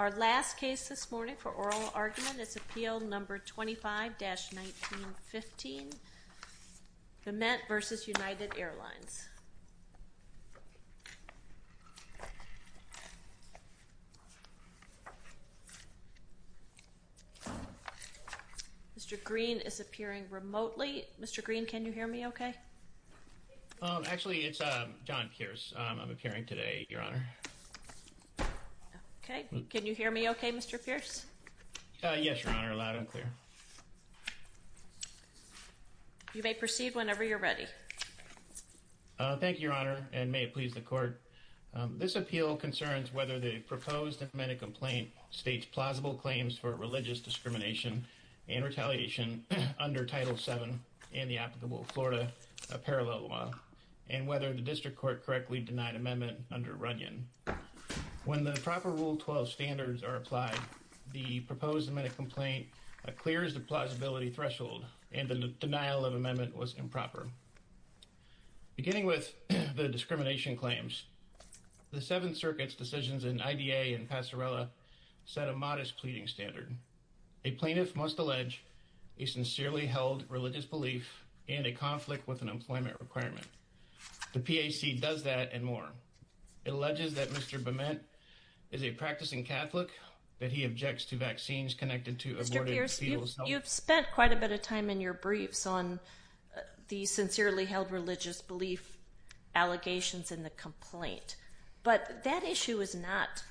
Our last case this morning for oral argument is appeal number 25-1915 Bement v. United Airlines. Mr. Green is appearing remotely. Mr. Green can you hear me okay? Actually, it's John Pierce. I'm appearing today, Your Honor. Can you hear me okay, Mr. Pierce? Yes, Your Honor, loud and clear. You may proceed whenever you're ready. Thank you, Your Honor, and may it please the court. This appeal concerns whether the proposed amended complaint states plausible claims for religious discrimination and retaliation under Title VII and the applicable Florida parallel law and whether the district court correctly denied amendment under Runyon. When the proper Rule 12 standards are applied, the proposed amended complaint clears the plausibility threshold and the denial of amendment was improper. Beginning with the discrimination claims, the Seventh Circuit's decisions in IDA and Passerella set a modest pleading standard. A plaintiff must allege a sincerely held religious belief in a conflict with an employment requirement. The PAC does that and more. It alleges that Mr. Bement is a practicing Catholic, that he objects to vaccines connected to abortion. Mr. Pierce, you've spent quite a bit of time in your briefs on the sincerely held religious belief allegations in the complaint, but that issue is not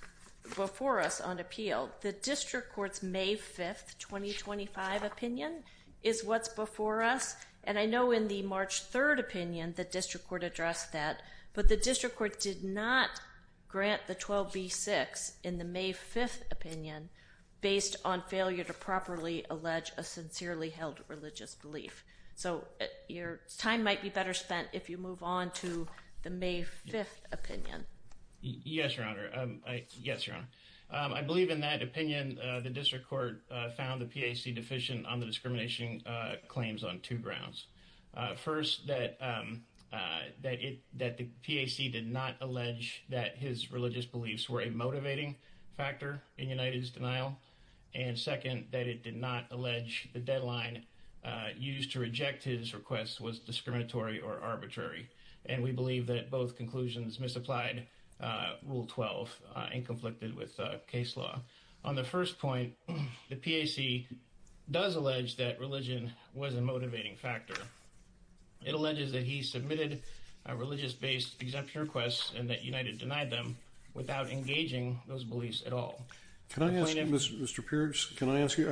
before us on appeal. The district court's May 5th, 2025 opinion is what's before us, and I know in the March 3rd opinion, the district court addressed that, but the district court did not grant the 12b-6 in the May 5th opinion based on failure to properly allege a sincerely held religious belief. So, your time might be spent if you move on to the May 5th opinion. Yes, Your Honor. I believe in that opinion, the district court found the PAC deficient on the discrimination claims on two grounds. First, that the PAC did not allege that his religious beliefs were a motivating factor in United's denial, and second, that it did not allege the deadline used to reject his request was discriminatory or arbitrary, and we believe that both conclusions misapplied Rule 12 and conflicted with case law. On the first point, the PAC does allege that religion was a motivating factor. It alleges that he submitted a religious-based exemption request and that United denied them without engaging those beliefs at all. Can I ask you, Mr. Pierce, can I ask you,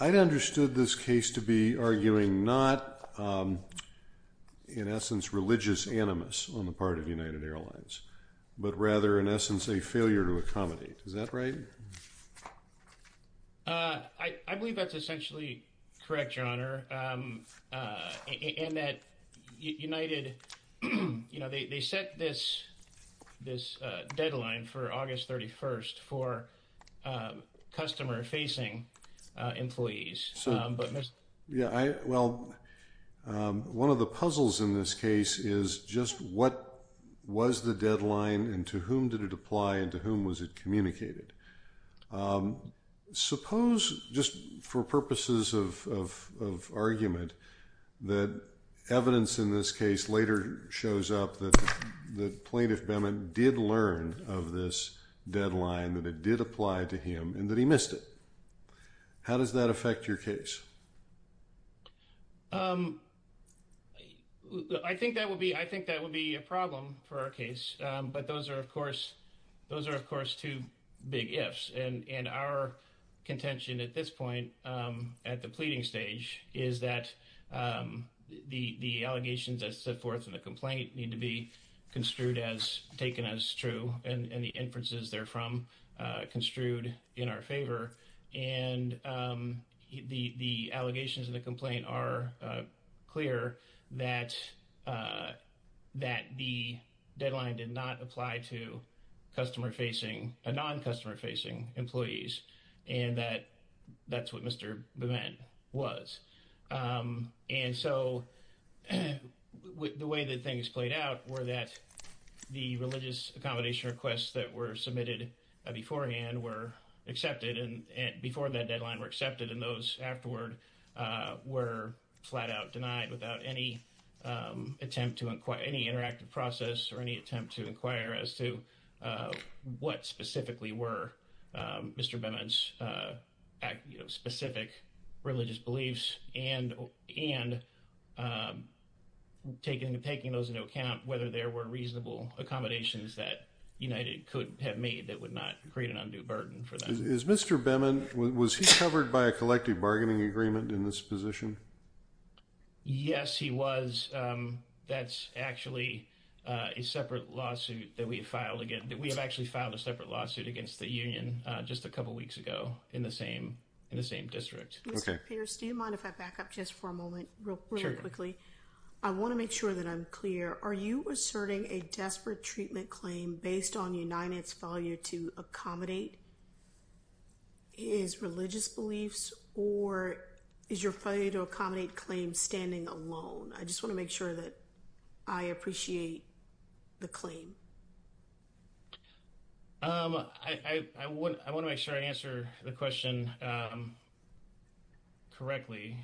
I'd understood this case to be arguing not, in essence, religious animus on the part of United Airlines, but rather, in essence, a failure to accommodate. Is that right? I believe that's essentially correct, Your Honor, in that United, you know, they set this deadline for August 31st for customer-facing employees. Yeah, well, one of the puzzles in this case is just what was the deadline and to whom did it apply and to whom was it communicated. Suppose, just for purposes of argument, that evidence in this case later shows up that the plaintiff, Bennett, did learn of this deadline, that it did apply to him and that he missed it. How does that affect your case? I think that would be, I think that would be a problem for our case, but those are, of course, those are, of course, two big ifs, and our contention at this point, at the pleading stage, is that the the allegations that set forth in the complaint need to be construed as, taken as true, and the inferences therefrom construed in our favor, and the the allegations of the complaint are clear that that the deadline did not apply to customer-facing, non-customer-facing employees, and that that's what Mr. Bevin was, and so the way that things played out were that the religious accommodation requests that were submitted beforehand were accepted and before that deadline were accepted and those afterward were flat-out denied without any attempt to inquire, any Mr. Bevin's, you know, specific religious beliefs and, and taking those into account, whether there were reasonable accommodations that United could have made that would not create an undue burden for them. Is Mr. Bevin, was he covered by a collective bargaining agreement in this position? Yes, he was. That's actually a separate lawsuit that we have filed against, that we have just a couple weeks ago in the same, in the same district. Okay. Mr. Pierce, do you mind if I back up just for a moment, really quickly? Sure. I want to make sure that I'm clear. Are you asserting a desperate treatment claim based on United's failure to accommodate his religious beliefs, or is your failure to accommodate claims standing alone? I want to make sure I answer the question correctly.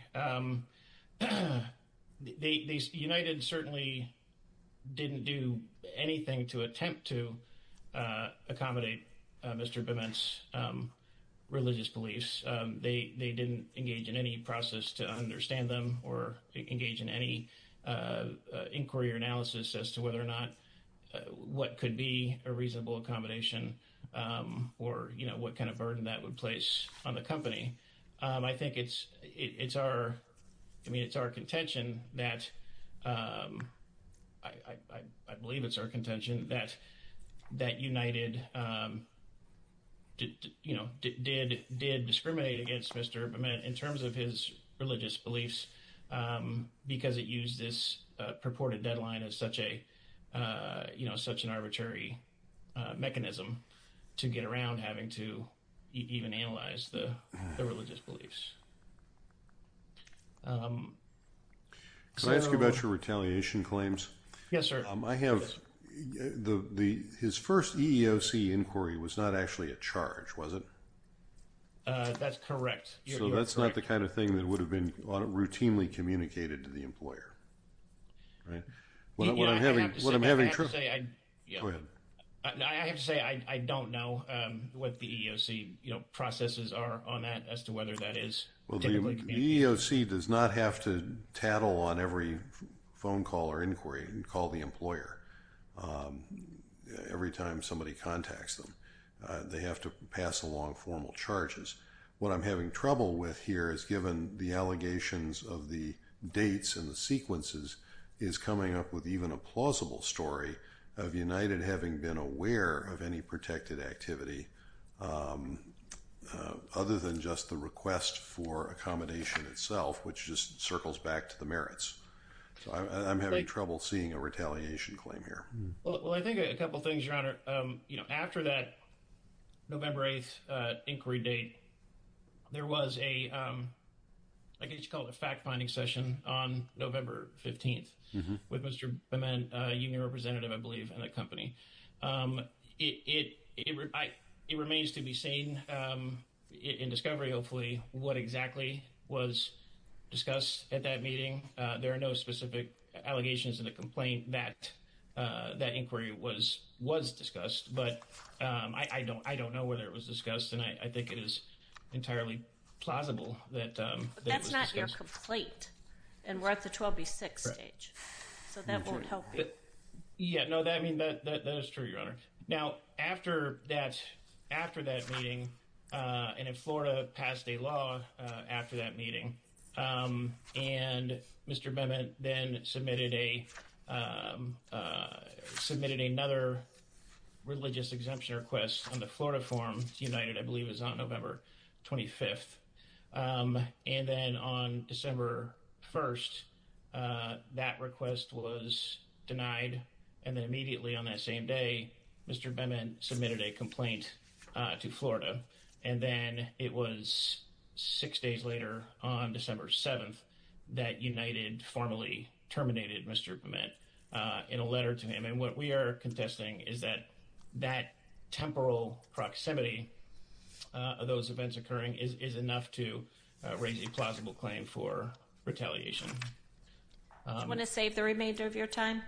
They, United certainly didn't do anything to attempt to accommodate Mr. Bevin's religious beliefs. They, they didn't engage in any process to understand them or engage in any inquiry or analysis as to whether or not what could be a reasonable accommodation or, you know, what kind of burden that would place on the company. I think it's, it's our, I mean, it's our contention that, I believe it's our contention that, that United, you know, did, did discriminate against Mr. Bevin in terms of his religious beliefs because it used this purported deadline as such a, you know, such an arbitrary mechanism to get around having to even analyze the religious beliefs. Can I ask you about your retaliation claims? Yes, sir. I have the, his first EEOC inquiry was not actually a charge, was it? That's correct. So that's not the kind of thing that would have been routinely communicated to the employer. I have to say, I don't know what the EEOC, you know, processes are on that as to whether that is typically communicated. The EEOC does not have to tattle on every phone call or inquiry and call the employer every time somebody contacts them. They have to pass along formal charges. What I'm having trouble with here is given the allegations of the dates and the sequences is coming up with even a plausible story of United having been aware of any protected activity other than just the request for accommodation itself, which just circles back to the merits. So I'm having trouble seeing a retaliation claim here. Well, I think a couple things, Your Honor. You know, after that November 8th inquiry date, there was a, I guess you call it a fact-finding session on November 15th with Mr. Bement, a union representative, I believe, in that company. It remains to be seen in discovery, hopefully, what exactly was discussed at that meeting. There are no specific allegations in the complaint that that inquiry was discussed, but I don't know whether it was discussed, and I think it is entirely plausible that it was discussed. But that's not your complaint, and we're at the 12B6 stage, so that won't help you. Yeah, no, I mean, that is true, Your Honor. Now, after that meeting, and if Florida passed a law after that meeting, and Mr. Bement then submitted a submitted another religious exemption request on the Florida form, United, I believe it was on November 25th, and then on December 1st, that request was denied, and then immediately on that same day, Mr. Bement submitted a complaint to Florida, and then it was six days later, on December 7th, that United formally terminated Mr. Bement in a letter to him, and what we are contesting is that that temporal proximity of those events occurring is enough to raise a plausible claim for retaliation. Do you want to save the remainder of your time?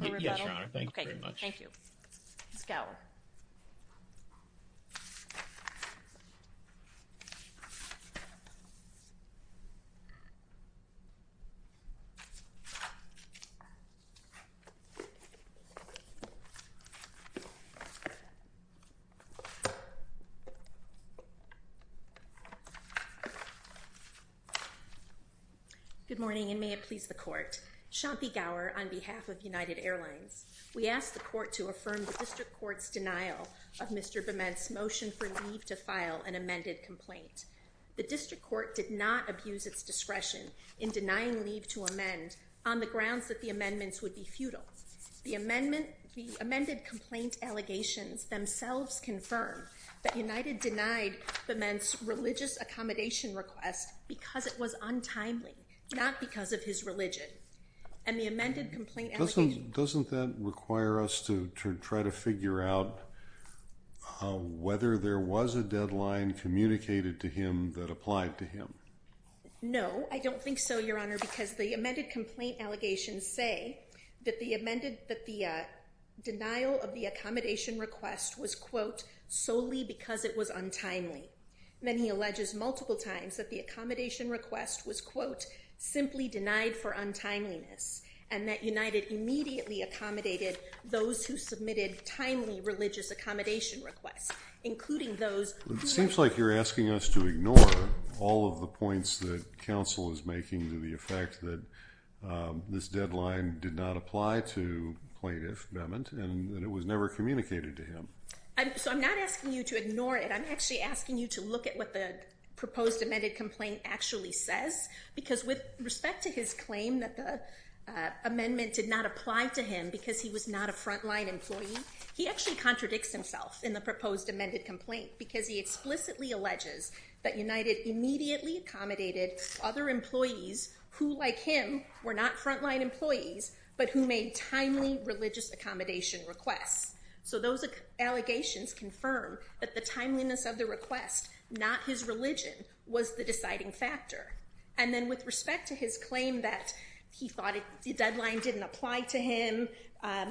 Yes, Your Honor. Thank you very much. Thank you. Ms. Gower. Good morning, and may it please the Court. Shanti Gower on behalf of United Airlines. We ask the Court to affirm the District Court's denial of Mr. Bement's motion for leave to file an amended complaint. The District Court did not abuse its discretion in denying leave to amend on the grounds that the amendments would be futile. The amendment, the amended complaint allegations themselves confirm that United denied Bement's religious accommodation request because it was untimely, not because of his religion, and the amended complaint doesn't that require us to try to figure out whether there was a deadline communicated to him that applied to him. No, I don't think so, Your Honor, because the amended complaint allegations say that the amended, that the denial of the accommodation request was, quote, solely because it was untimely. Then he alleges multiple times that the accommodation request was, quote, simply denied for untimeliness, and that United immediately accommodated those who admitted timely religious accommodation requests, including those... It seems like you're asking us to ignore all of the points that counsel is making to the effect that this deadline did not apply to plaintiff Bement, and it was never communicated to him. So I'm not asking you to ignore it, I'm actually asking you to look at what the proposed amended complaint actually says, because with respect to his claim that the amendment did not apply to him because he was not a frontline employee, he actually contradicts himself in the proposed amended complaint, because he explicitly alleges that United immediately accommodated other employees who, like him, were not frontline employees, but who made timely religious accommodation requests. So those allegations confirm that the timeliness of the request, not his religion, was the deciding factor. And then with respect to his claim that he thought the deadline didn't apply to him,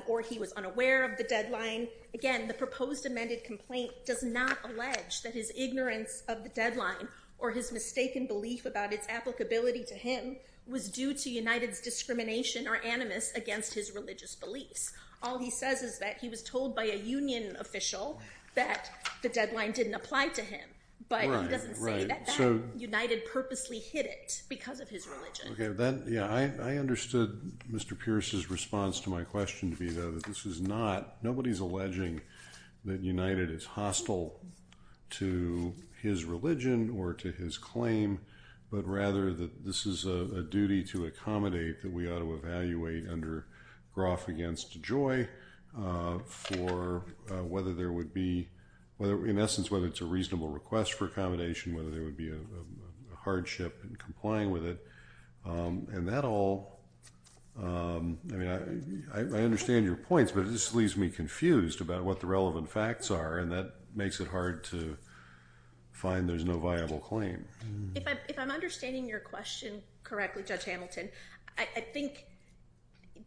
or he was unaware of the deadline, again, the proposed amended complaint does not allege that his ignorance of the deadline, or his mistaken belief about its applicability to him, was due to United's discrimination or animus against his religious beliefs. All he says is that he was told by a union official that the deadline didn't apply to him, but he doesn't say that United purposely hid it because of his religion. Yeah, I understood Mr. Pierce's response to my question to be that this is not, nobody's alleging that United is hostile to his religion or to his claim, but rather that this is a duty to accommodate that we ought to evaluate under Groff against Joy for whether there would be, in essence, whether it's a reasonable request for accommodation, whether there would be a hardship in complying with it, and that all, I mean, I understand your points, but this leaves me confused about what the relevant facts are, and that makes it hard to find there's no viable claim. If I'm understanding your question correctly, Judge Hamilton, I think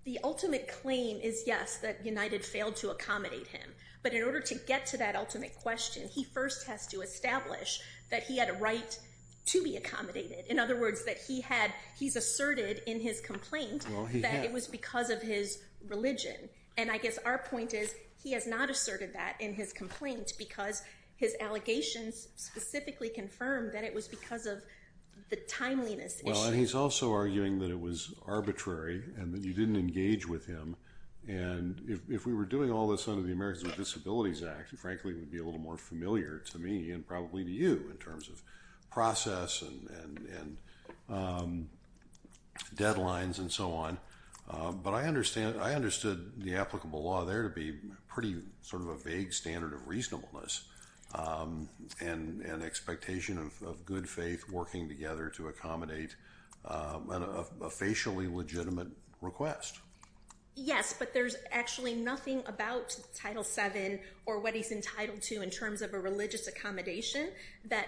the ultimate claim is, yes, that United failed to accommodate him, but in order to get to that ultimate question, he first has to establish that he had a right to be accommodated. In other words, that he had, he's asserted in his complaint that it was because of his religion, and I guess our point is he has not asserted that in his complaint because his allegations specifically confirmed that it was because of the timeliness. Well, and he's also arguing that it was arbitrary and that you didn't engage with him, and if we were doing all this under the Americans with Disabilities Act, frankly, it would be a little more familiar to me and probably to you in terms of process and deadlines and so on, but I understand, I understood the applicable law there to be pretty sort of a vague standard of reasonableness and expectation of good faith working together to accommodate a facially legitimate request. Yes, but there's actually nothing about Title VII or what he's entitled to in terms of a religious accommodation that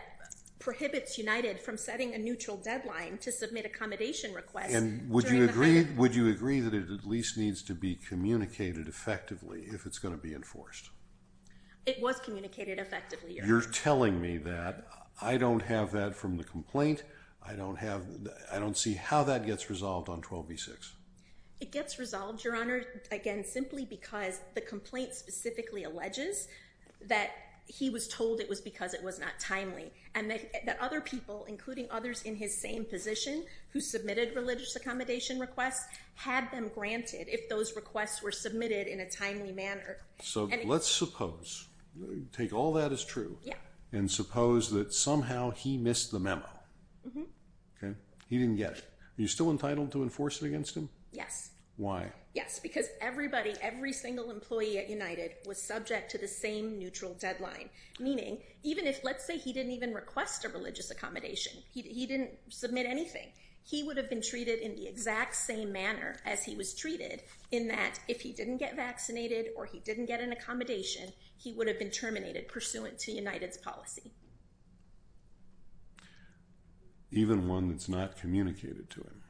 prohibits United from setting a neutral deadline to submit accommodation requests. And would you agree, would you agree that it at least needs to be communicated effectively if it's going to be enforced? It was communicated effectively, Your Honor. You're telling me that I don't have that from the complaint, I don't have, I don't see how that gets resolved on 12b-6. It gets resolved, Your Honor, again simply because the complaint specifically alleges that he was told it was because it was not timely and that other people, including others in his same position who submitted religious accommodation requests, had them granted if those requests were submitted in a timely manner. So let's suppose, take all that as true, and suppose that somehow he missed the memo. He didn't get it. Are you still entitled to enforce it against him? Yes. Why? Yes, because everybody, every single employee at United was subject to the same neutral deadline, meaning even if, let's say he didn't even request a religious accommodation, he didn't submit anything, he would have been treated in the exact same manner as he was treated in that if he didn't get vaccinated or he didn't get an accommodation, he would have been terminated pursuant to United's policy. Even one that's not communicated to him?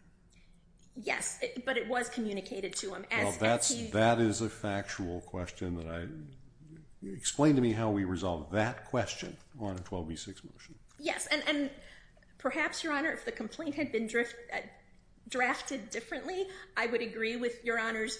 Yes, but it was communicated to him. That is a factual question that I, explain to me how we resolve that question on a 12b-6 motion. Yes, and perhaps, Your Honor, if the complaint had been drafted differently, I would agree with Your Honor's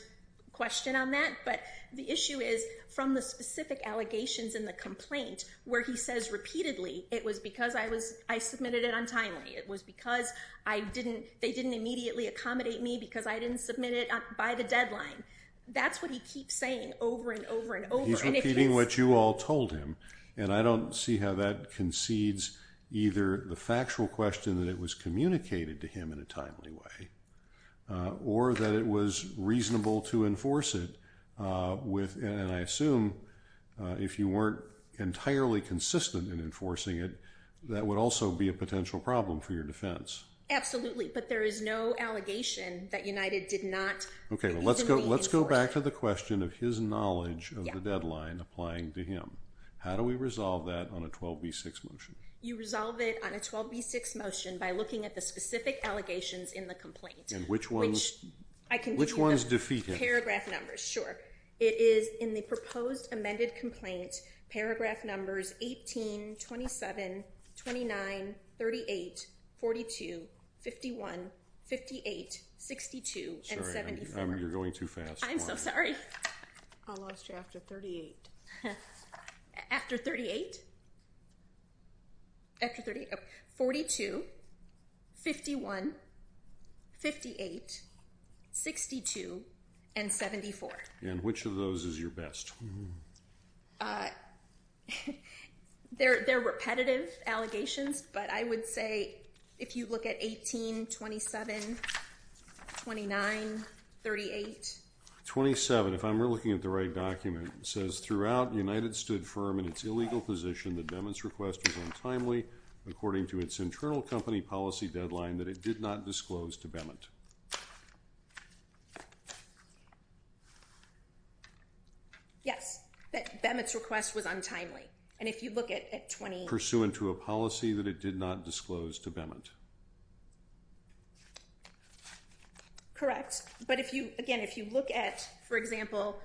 question on that, but the issue is from the specific allegations in the complaint where he says repeatedly, it was because I was, I submitted it untimely. It was because I didn't, they didn't immediately accommodate me because I didn't submit it by the deadline. That's what he keeps saying over and over and over. He's repeating what you all told him, and I don't see how that concedes either the factual question that it was communicated to him in a timely way or that it was reasonable to enforce it with, and I assume if you weren't entirely consistent in enforcing it, that would also be a potential problem for your defense. Absolutely, but there is no allegation that United did not. Okay, let's go, let's go back to the question of his knowledge of the deadline applying to him. How do we resolve that on a 12b-6 motion? You resolve it on a 12b-6 motion by looking at the specific allegations in the complaint. And which ones, which ones defeat him? Paragraph numbers, sure. It is in the proposed amended complaint, paragraph numbers 18, 27, 29, 38, 42, 51, 58, 62, and 74. Sorry, I'm, you're going too fast. I'm so sorry. I lost you after 38. After 38? After 38, okay. 42, 51, 58, 62, and 74. And which of those is your best? They're, they're repetitive allegations, but I would say if you look at 18, 27, 29, 38. 27, if I'm looking at the right document, it says throughout United stood firm in its illegal position that Bemant's request was untimely according to its internal company policy deadline that it did not disclose to Bemant. Yes, that Bemant's request was untimely, and if you look at 20. Pursuant to a policy that it did not disclose to Bemant. Correct, but if you, again, if you look at, for example,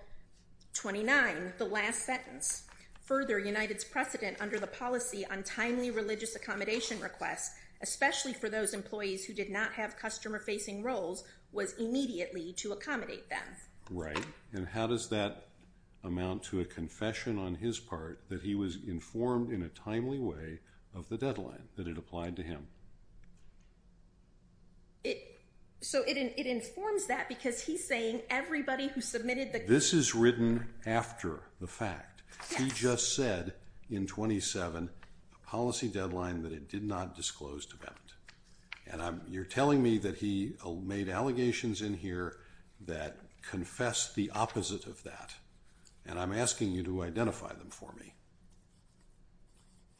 29, the last sentence, further United's precedent under the policy on timely religious accommodation requests, especially for those employees who did not have customer-facing roles, was immediately to accommodate them. Right, and how does that amount to a confession on his part that he was informed in a timely way of the deadline that it applied to him? It, so it informs that because he's saying everybody who submitted the... This is written after the fact. He just said in 27, a policy deadline that it did not disclose to Bemant, and I'm, you're telling me that he made allegations in here that confessed the opposite of that, and I'm asking you to identify them for me.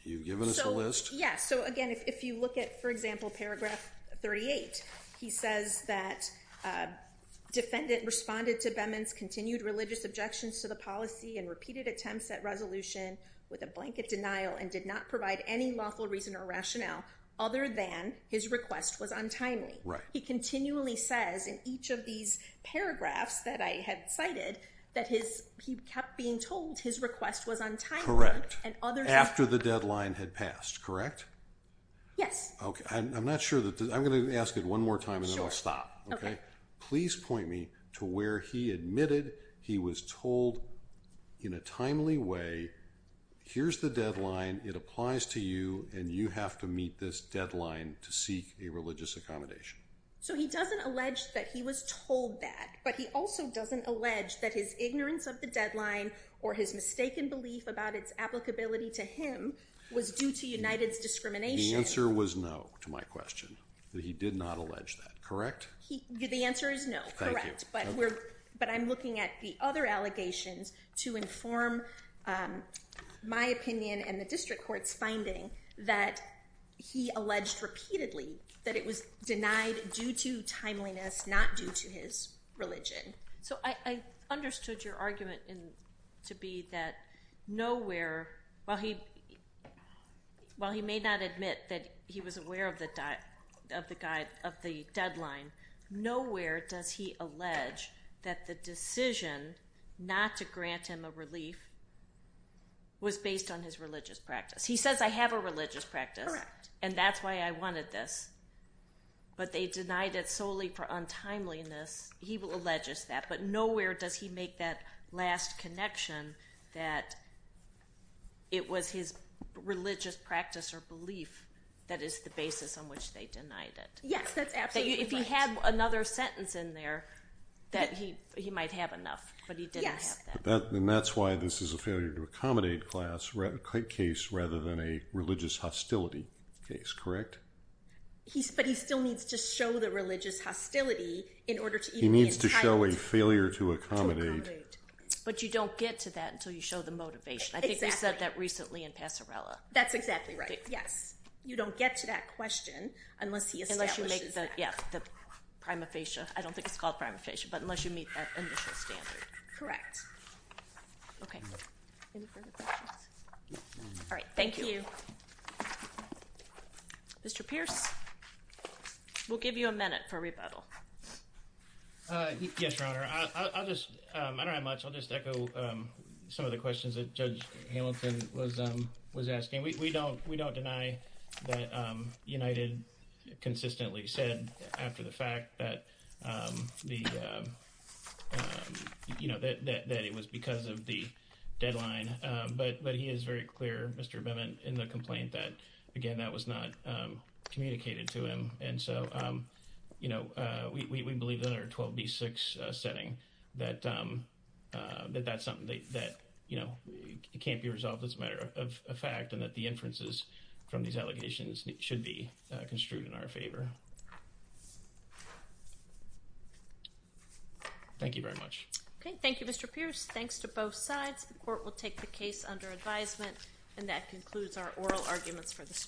You've given us a list? Yes, so again, if you look at, for example, paragraph 38, he says that defendant responded to Bemant's continued religious objections to the policy and repeated attempts at resolution with a blanket denial and did not provide any lawful reason or rationale other than his request was untimely. Right. He continually says in each of these paragraphs that I had cited that his, he kept being told his request was untimely. Correct, after the deadline had passed, correct? Yes. Okay, I'm not sure that, I'm gonna ask it one more time and then I'll stop. Okay. Please point me to where he admitted he was told in a timely way, here's the deadline, it applies to you, and you have to meet this deadline to seek a religious accommodation. So he doesn't allege that he was told that, but he also doesn't allege that his ignorance of the deadline or his mistaken belief about its applicability to him was due to United's discrimination. The answer was no to my question, that he did not allege that, correct? The answer is no, correct, but we're, but I'm looking at the other allegations to inform my opinion and the district court's finding that he alleged repeatedly that it was denied due to timeliness, not due to his religion. So I understood your argument in, to be that nowhere, while he, while he may not admit that he was aware of the, of the guide, of the deadline, nowhere does he allege that the decision not to grant him a relief was based on his religious practice. He says I have a religious practice and that's why I wanted this, but they denied it solely for untimeliness, he will allege us that, but nowhere does he make that last connection that it was his religious practice or belief that is the basis on which they denied it. Yes, that's if he had another sentence in there that he, he might have enough, but he didn't have that. And that's why this is a failure to accommodate class case rather than a religious hostility case, correct? He's, but he still needs to show the religious hostility in order to, he needs to show a failure to accommodate. But you don't get to that until you show the motivation. I think they said that recently in Passerella. That's exactly right, yes. You don't get to that question unless he establishes it. Unless you make the, yeah, the prima facie, I don't think it's called prima facie, but unless you meet that initial standard. Correct. Okay. All right, thank you. Mr. Pierce, we'll give you a minute for rebuttal. Yes, Your Honor. I'll just, I don't have much, I'll just echo some of the questions that Judge Hamilton was, was asking. We don't, we don't deny that United consistently said after the fact that the, you know, that, that it was because of the deadline. But, but he is very clear, Mr. Beman, in the complaint that, again, that was not communicated to him. And so, you know, we believe that our 12B6 setting, that, that that's something that, you know, it can't be resolved as a matter of fact and that the inferences from these allegations should be construed in our favor. Thank you very much. Okay, thank you, Mr. Pierce. Thanks to both sides. The court will take the case under advisement and that concludes our oral arguments for this morning.